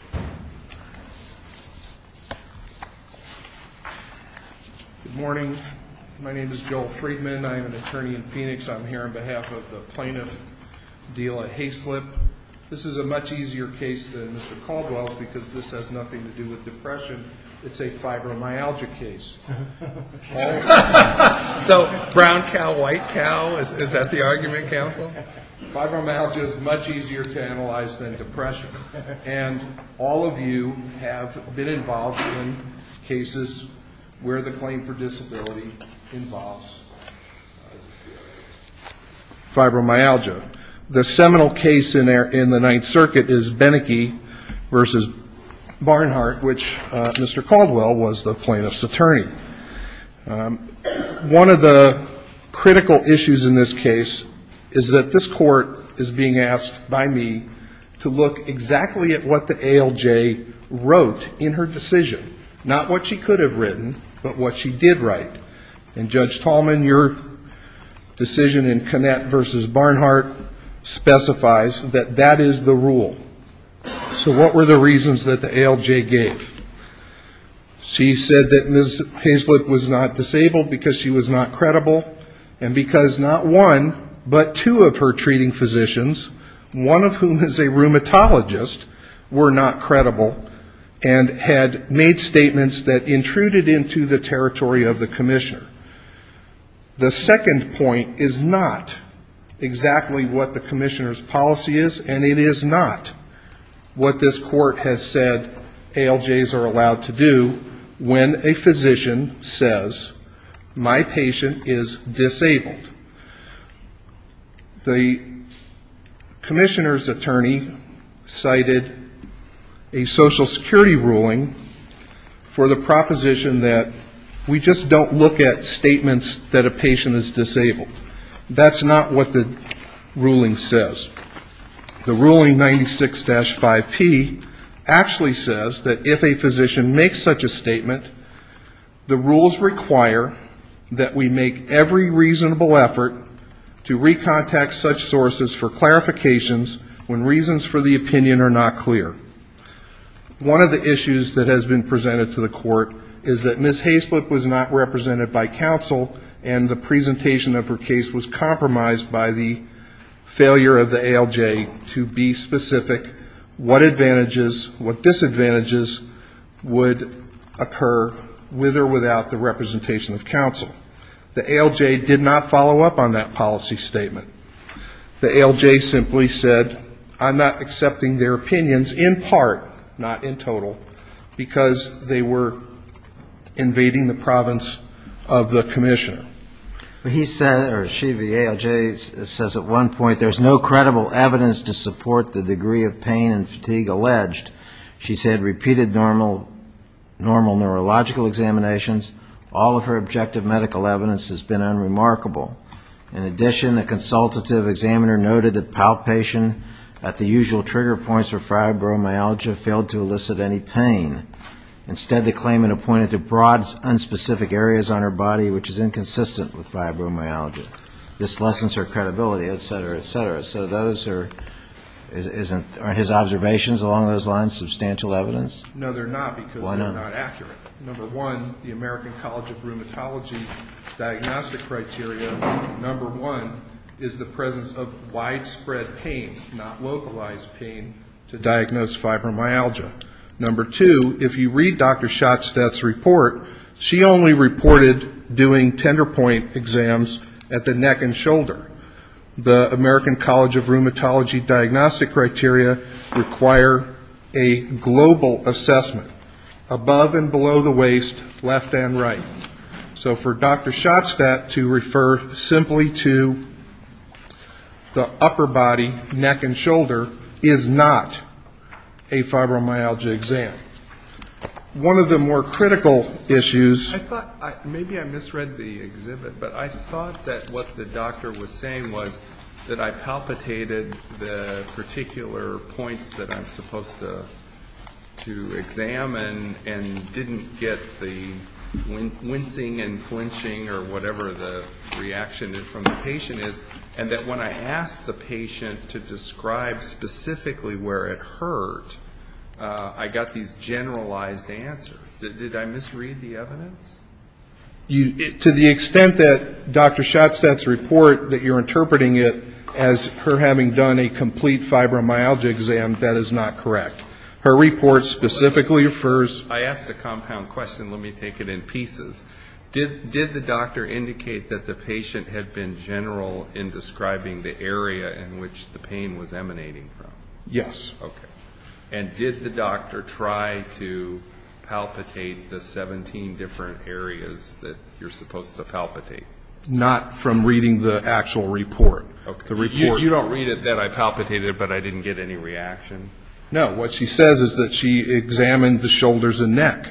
Good morning. My name is Joel Friedman. I'm an attorney in Phoenix. I'm here on behalf of the plaintiff, Dela Haislip. This is a much easier case than Mr. Caldwell's because this has nothing to do with depression. It's a fibromyalgia case. So brown cow, white cow, is that the argument, counsel? Fibromyalgia is much easier to analyze than depression. And all of you have been involved in cases where the claim for disability involves fibromyalgia. The seminal case in the Ninth Circuit is Beneke v. Barnhart, which Mr. Caldwell was the plaintiff's that this court is being asked by me to look exactly at what the ALJ wrote in her decision. Not what she could have written, but what she did write. And Judge Tallman, your decision in Connett v. Barnhart specifies that that is the rule. So what were the reasons that the ALJ gave? She said that Ms. Haislip was not disabled because she was not credible, and because not one, but two of her treating physicians, one of whom is a rheumatologist, were not credible and had made statements that intruded into the territory of the commissioner. The second point is not exactly what the commissioner's policy is, and it is not what this court has said ALJs are allowed to do when a physician says, my patient is disabled. The commissioner's attorney cited a Social Security ruling for the proposition that we just don't look at statements that a patient is disabled. That's not what the ruling says. The ruling 96-5P actually says that if a physician makes such a statement, the rules require that we make every reasonable effort to recontact such sources for clarifications when reasons for the opinion are not clear. One of the issues that has been presented to the court is that Ms. Haislip was not represented by counsel, and the presentation of her case was compromised by the failure of the ALJ to be specific what advantages, what disadvantages would occur with or without the representation of counsel. The ALJ did not follow up on that policy statement. The ALJ simply said, I'm not accepting their of the commissioner. Well, he said, or she, the ALJ says at one point, there's no credible evidence to support the degree of pain and fatigue alleged. She said repeated normal neurological examinations, all of her objective medical evidence has been unremarkable. In addition, the consultative examiner noted that palpation at the usual trigger points for fibromyalgia failed to elicit any pain. Instead, the claimant appointed to broad, unspecific areas on her body which is inconsistent with fibromyalgia. This lessens her credibility, et cetera, et cetera. So those are, aren't his observations along those lines substantial evidence? No, they're not because they're not accurate. Number one, the American College of Rheumatology diagnostic criteria, number one, is the presence of widespread pain, not localized pain, to diagnose fibromyalgia. Number two, if you read Dr. Schottstedt's report, she only reported doing tender point exams at the neck and shoulder. The American College of Rheumatology diagnostic criteria require a global assessment, above and below the waist, left and right. So for Dr. Schottstedt to refer simply to the upper body, neck and shoulder, is not a fibromyalgia exam. One of the more critical issues. I thought, maybe I misread the exhibit, but I thought that what the doctor was saying was that I palpitated the particular points that I'm supposed to examine and didn't get the wincing and that when I asked the patient to describe specifically where it hurt, I got these generalized answers. Did I misread the evidence? To the extent that Dr. Schottstedt's report, that you're interpreting it as her having done a complete fibromyalgia exam, that is not correct. Her report specifically refers to I asked a compound question. Let me take it in pieces. Did the doctor indicate that the patient had been general in describing the area in which the pain was emanating from? Yes. Okay. And did the doctor try to palpitate the 17 different areas that you're supposed to palpitate? Not from reading the actual report. You don't read it that I palpitated it, but I didn't get any reaction? No. What she says is that she examined the shoulders and neck.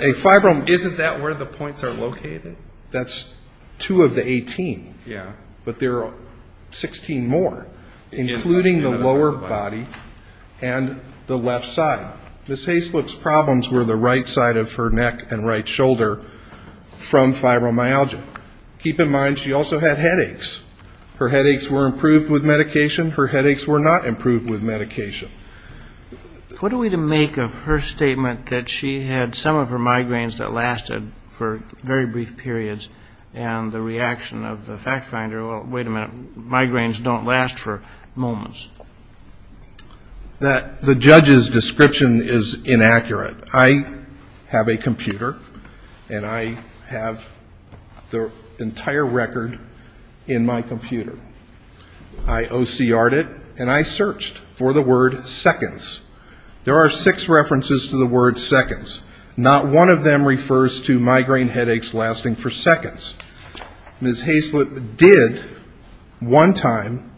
Isn't that where the points are located? That's two of the 18. Yeah. But there are 16 more, including the lower body and the left side. Ms. Haisluck's problems were the right side of her neck and right shoulder from fibromyalgia. Keep in mind, she also had headaches. Her headaches were improved with medication. Her headaches were not improved with medication. What are we to make of her statement that she had some of her migraines that lasted for very brief periods and the reaction of the fact finder, well, wait a minute, migraines don't last for moments? The judge's description is inaccurate. I have a computer, and I have the entire record in my computer. I OCRed it, and I searched for the word seconds. There are six references to the word seconds. Not one of them refers to migraine headaches lasting for seconds. Ms. Haisluck did one time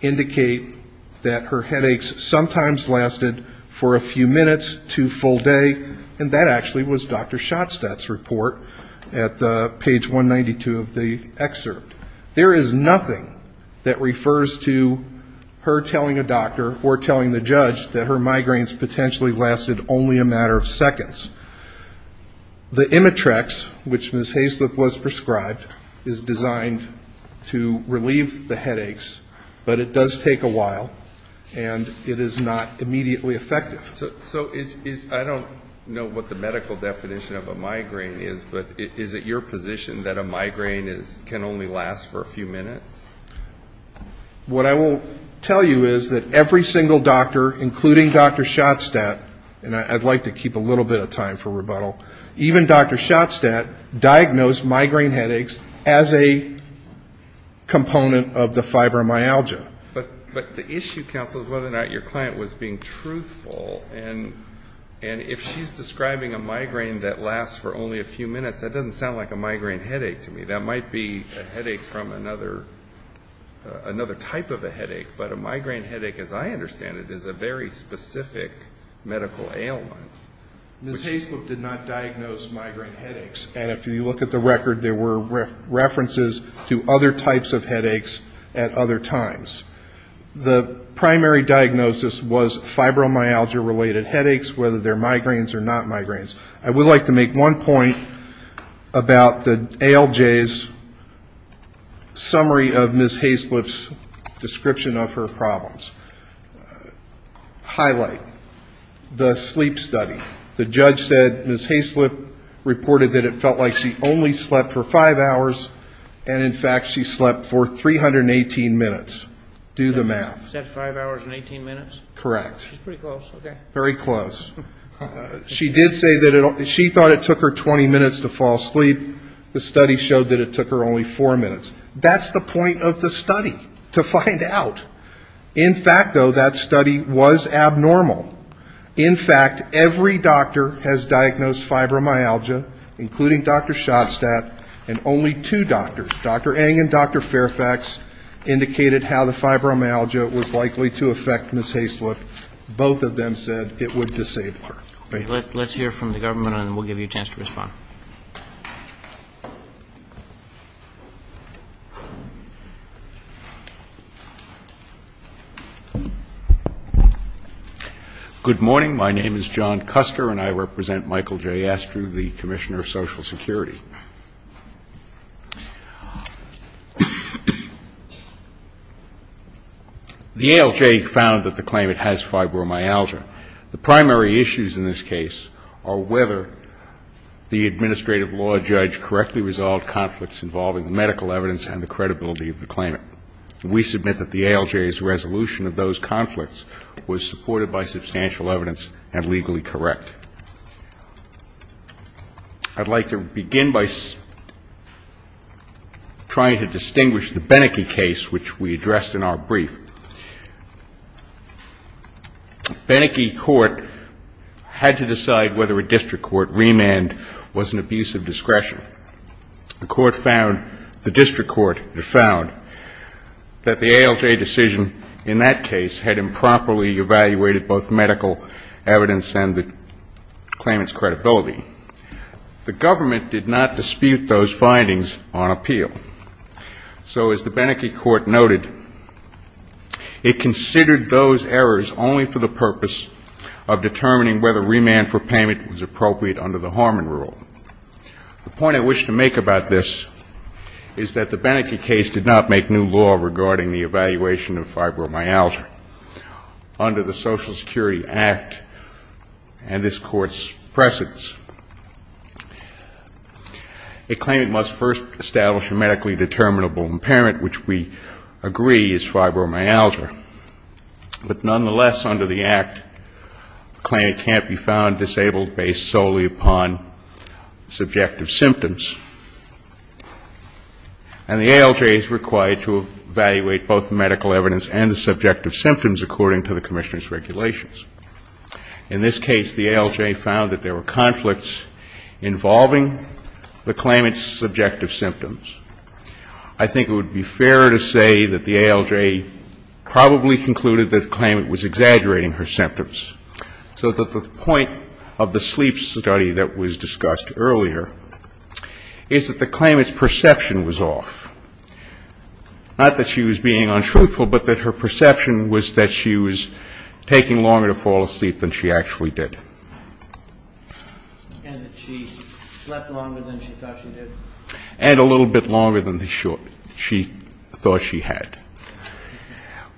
indicate that her headaches sometimes lasted for a few minutes to full day, and that actually was Dr. Schottstadt's report at page 192 of the excerpt. There is nothing that refers to her telling a doctor or telling the judge that her migraines potentially lasted only a matter of seconds. The Imitrex, which Ms. Haisluck was prescribed, is designed to relieve the headaches, but it does take a while, and it is not immediately effective. So I don't know what the medical definition of a migraine is, but is it your position that a migraine can only last for a few minutes? What I will tell you is that every single doctor, including Dr. Schottstadt, and I'd like to keep a little bit of time for rebuttal, even Dr. Schottstadt diagnosed migraine headaches as a component of the fibromyalgia. But the issue, counsel, is whether or not your client was being truthful, and if she's describing a migraine that lasts for only a few minutes, that doesn't sound like a migraine headache to me. That might be a headache from another type of a headache, but a migraine headache, as I understand it, is a very specific medical ailment. Ms. Haisluck did not diagnose migraine headaches, and if you look at the record, there were references to other types of headaches at other times. The primary diagnosis was fibromyalgia-related headaches, whether they're migraines or not migraines. I would like to make one point about the ALJ's summary of Ms. Haisluck's description of her problems. Highlight, the sleep study. The judge said Ms. Haisluck reported that it felt like she only slept for five hours, and in fact she slept for 318 minutes. Do the math. Is that five hours and 18 minutes? Correct. She's pretty close. Very close. She did say that she thought it took her 20 minutes to fall asleep. The study showed that it took her only four minutes. That's the point of the study, to find out. In fact, though, that study was abnormal. In fact, every doctor has diagnosed fibromyalgia, including Dr. Schottstadt, and only two doctors, Dr. Eng and Dr. Fairfax, indicated how the fibromyalgia was likely to affect Ms. Haisluck. Both of them said it would disable her. Let's hear from the government, and then we'll give you a chance to respond. Good morning. My name is John Cusker, and I represent Michael J. Astrew, the Commissioner of Social Security. The ALJ found that the claimant has fibromyalgia. The primary issues in this case are whether the administrative law judge correctly resolved conflicts involving medical evidence and the credibility of the claimant. We submit that the ALJ's resolution of those conflicts was supported by substantial evidence and legally correct. I'd like to begin by trying to distinguish the Beneke case, which we addressed in our brief. Beneke court had to decide whether a district court remand was an abuse of discretion. The court found, the district court found that the ALJ decision in that case had improperly evaluated both medical evidence and the claimant's credibility. The government did not dispute those findings on appeal. So, as the Beneke court noted, it considered those errors only for the purpose of determining whether remand for payment was appropriate under the Harmon rule. The point I wish to make about this is that the Beneke case did not make new law regarding the evaluation of fibromyalgia under the Social Security Act and this court's precedence. A claimant must first establish a medically determinable impairment, which we agree is fibromyalgia. But nonetheless, under the Act, the claimant can't be found disabled based solely upon subjective symptoms. And the ALJ is required to evaluate both the medical evidence and the subjective symptoms according to the Commissioner's regulations. In this case, the ALJ found that there were conflicts involving the claimant's subjective symptoms. I think it would be fair to say that the ALJ probably concluded that the claimant was exaggerating her symptoms. So the point of the sleep study that was discussed earlier is that the claimant's perception was off. Not that she was being untruthful, but that her perception was that she was taking longer to fall asleep than she actually did. And that she slept longer than she thought she did. And a little bit longer than she thought she had.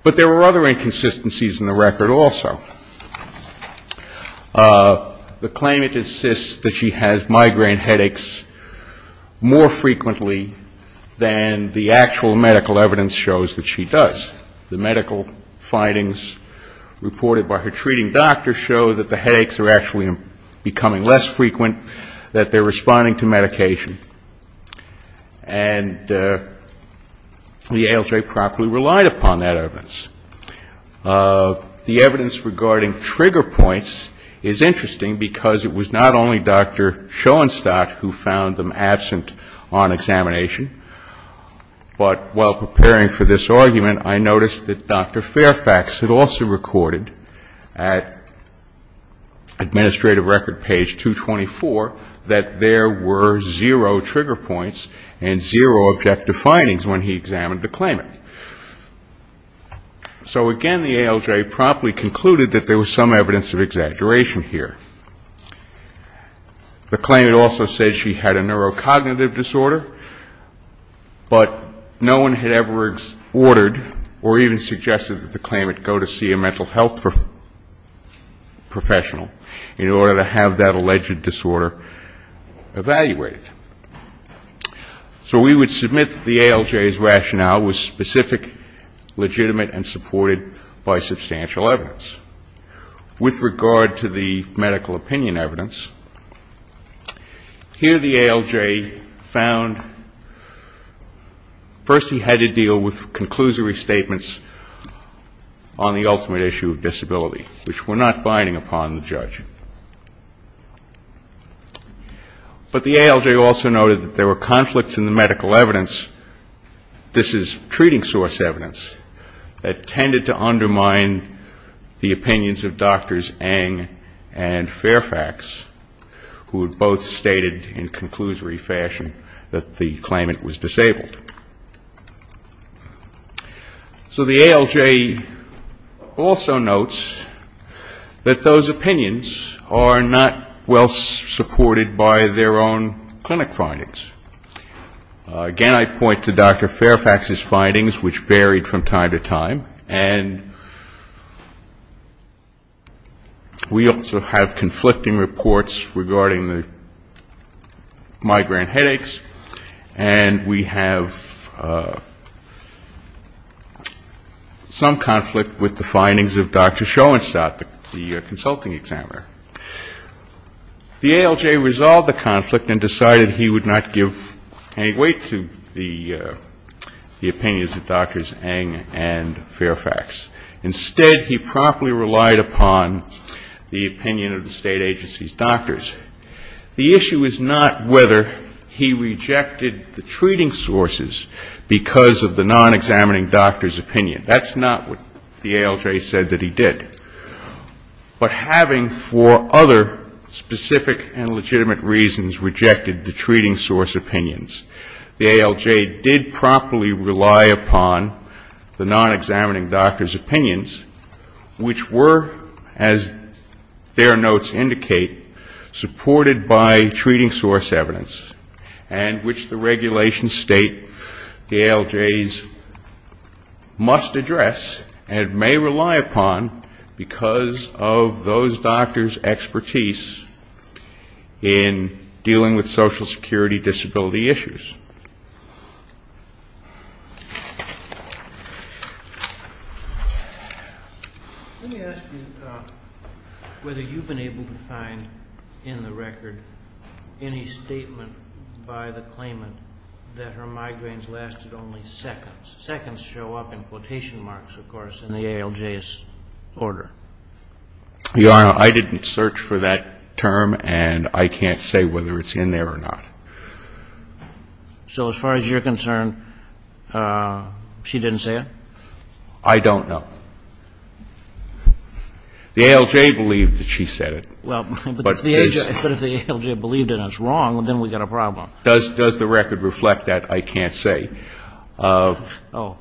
But there were other inconsistencies in the record also. The claimant insists that she has migraine headaches more frequently than the actual medical evidence shows that she does. The medical findings reported by her treating doctor show that the headaches are actually becoming less frequent, that they're responding to medication. And the ALJ properly relied upon that evidence. The evidence regarding trigger points is interesting because it was not only Dr. Schoenstatt who found them absent on examination, but while preparing for this argument, I noticed that Dr. Fairfax had also recorded at administrative record page 224 that there were zero trigger points and zero objective findings when he examined the claimant. So again, the ALJ promptly concluded that there was some evidence of exaggeration here. The claimant also said she had a neurocognitive disorder, but no one had ever ordered or even suggested that the claimant go to see a mental health professional in order to have that alleged disorder evaluated. So we would submit that the ALJ's rationale was specific, legitimate, and supported by substantial evidence. With regard to the medical opinion evidence, here the ALJ found first he had to deal with conclusory statements on the ultimate issue of disability, which were not binding upon the judge. But the ALJ also noted that there were conflicts in the medical evidence. This is treating source evidence that tended to undermine the opinions of Drs. Eng and Fairfax, who had both stated in conclusory fashion that the claimant was disabled. So the ALJ also notes that those opinions are not well supported by their own clinic findings. Again, I point to Dr. Fairfax's findings, which varied from time to time, and we also have conflicting reports regarding the migraine headaches, and we have some conflict with the findings of Dr. Schoenstatt, the consulting examiner. The ALJ resolved the conflict and decided he would not give any weight to the opinions of Drs. Eng and Fairfax. Instead, he promptly relied upon the opinion of the state agency's doctors. The issue is not whether he rejected the treating sources because of the non-examining doctor's opinion. That's not what the ALJ said that he did. But having for other specific and legitimate reasons rejected the treating source opinions, the ALJ did promptly rely upon the non-examining doctor's opinions, which were, as their notes indicate, supported by treating source evidence, and which the regulations state the ALJs must address and may rely upon because of those doctors' expertise in dealing with social security disability issues. Let me ask you whether you've been able to find in the record any statement by the claimant that her migraines lasted only seconds. Seconds show up in quotation marks, of course, in the ALJ's order. Your Honor, I didn't search for that term, and I can't say whether it's in there or not. So as far as you're concerned, she didn't say it? I don't know. The ALJ believed that she said it. But if the ALJ believed it and it's wrong, then we've got a problem. Does the record reflect that? I can't say. But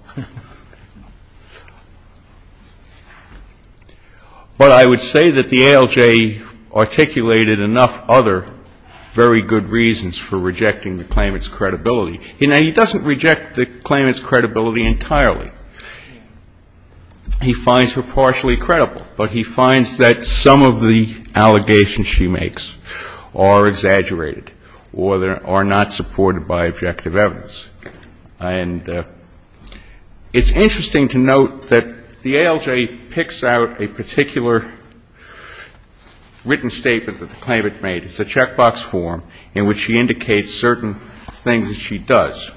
I would say that the ALJ articulated enough other very good reasons for rejecting the claimant's credibility. He doesn't reject the claimant's credibility entirely. He finds her partially credible, but he finds that some of the allegations she makes are exaggerated or not supported by objective evidence. And it's interesting to note that the ALJ picks out a particular written statement that the claimant made. It's a checkbox form in which she indicates certain things that she does.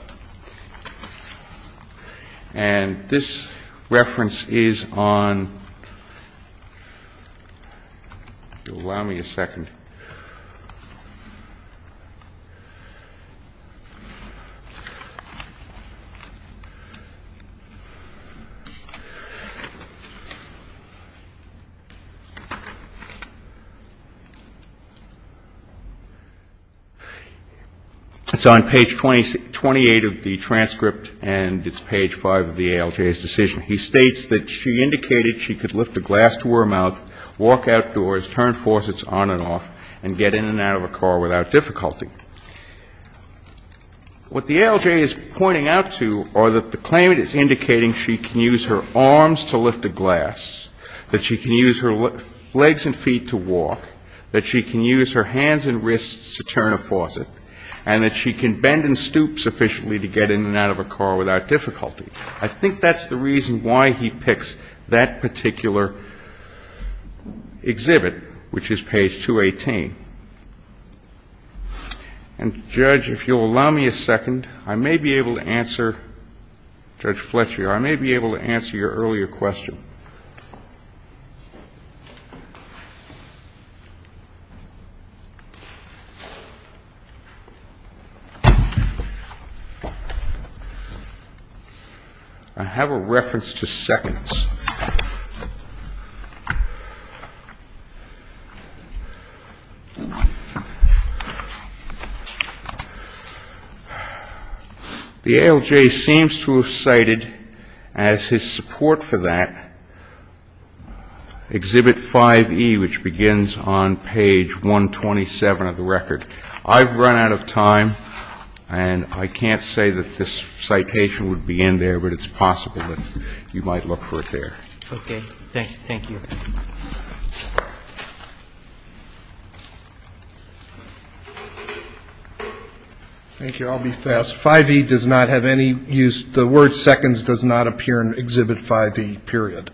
And this reference is on ‑‑ if you'll allow me a second. It's on page 28 of the transcript, and it's page 5 of the ALJ's decision. He states that she indicated she could lift a glass to her mouth, walk outdoors, turn faucets on and off, and get in and out of a car without difficulty. What the ALJ is pointing out to are that the claimant is indicating she can use her arms to lift a glass, that she can use her legs and feet to walk, that she can use her hands and wrists to turn a faucet, and that she can bend and stoop sufficiently to get in and out of a car without difficulty. I think that's the reason why he picks that particular exhibit, which is page 218. And, Judge, if you'll allow me a second, I may be able to answer ‑‑ Judge Fletcher, I may be able to answer your earlier question. I have a reference to seconds. The ALJ seems to have cited, as his support for that, exhibit 5E, which begins on page 127 of the record. I've run out of time, and I can't say that this citation would be in there, but it's possible that you might look for it there. Okay. Thank you. Thank you. I'll be fast. 5E does not have any use ‑‑ the word seconds does not appear in exhibit 5E, period.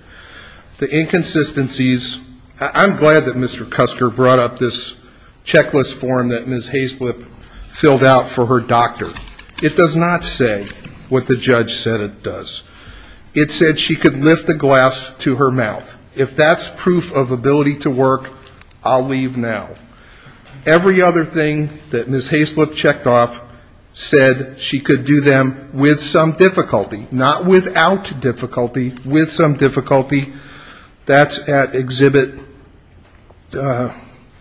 The inconsistencies ‑‑ I'm glad that Mr. Cusker brought up this checklist form that Ms. Haislip filled out for her doctor. It does not say what the judge said it does. It said she could lift a glass to her mouth. If that's proof of ability to work, I'll leave now. Every other thing that Ms. Haislip checked off said she could do them with some difficulty, not without difficulty, with some difficulty. That's at exhibit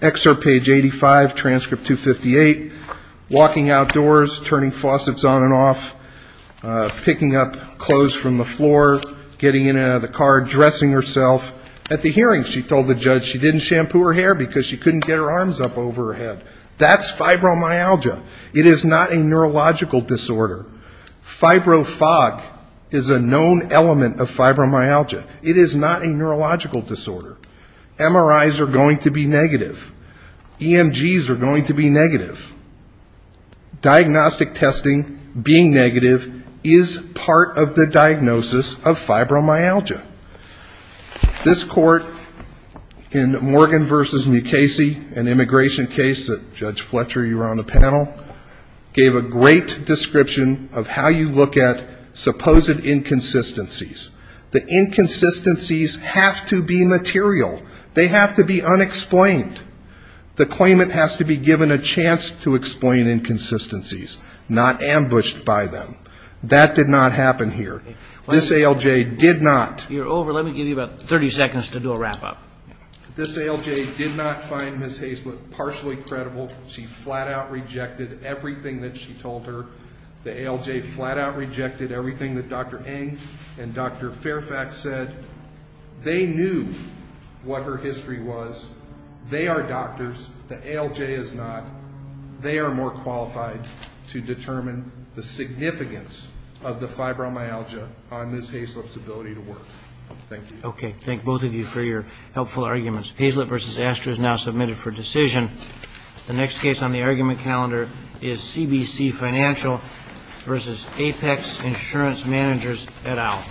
excerpt page 85, transcript 258, walking outdoors, turning faucets on and off, picking up clothes from the floor, getting in and out of the car, dressing herself. That's fibromyalgia. It is not a neurological disorder. Fibro fog is a known element of fibromyalgia. It is not a neurological disorder. MRIs are going to be negative. EMGs are going to be negative. Diagnostic testing being negative is part of the diagnosis of fibromyalgia. This court in Morgan v. Mukasey, an immigration case that Judge Fletcher, you were on the panel, gave a great description of how you look at supposed inconsistencies. The inconsistencies have to be material. They have to be unexplained. The claimant has to be given a chance to explain inconsistencies, not ambushed by them. That did not happen here. This ALJ did not. This ALJ did not find Ms. Haislip partially credible. She flat out rejected everything that she told her. The ALJ flat out rejected everything that Dr. Eng and Dr. Fairfax said. They knew what her history was. They are doctors. The ALJ is not. They are more qualified to determine the significance of the fibromyalgia on Ms. Haislip's ability to work. Thank you. Okay. Thank both of you for your helpful arguments. Haislip v. Astra is now submitted for decision. The next case on the argument calendar is CBC Financial v. Apex Insurance Managers et al.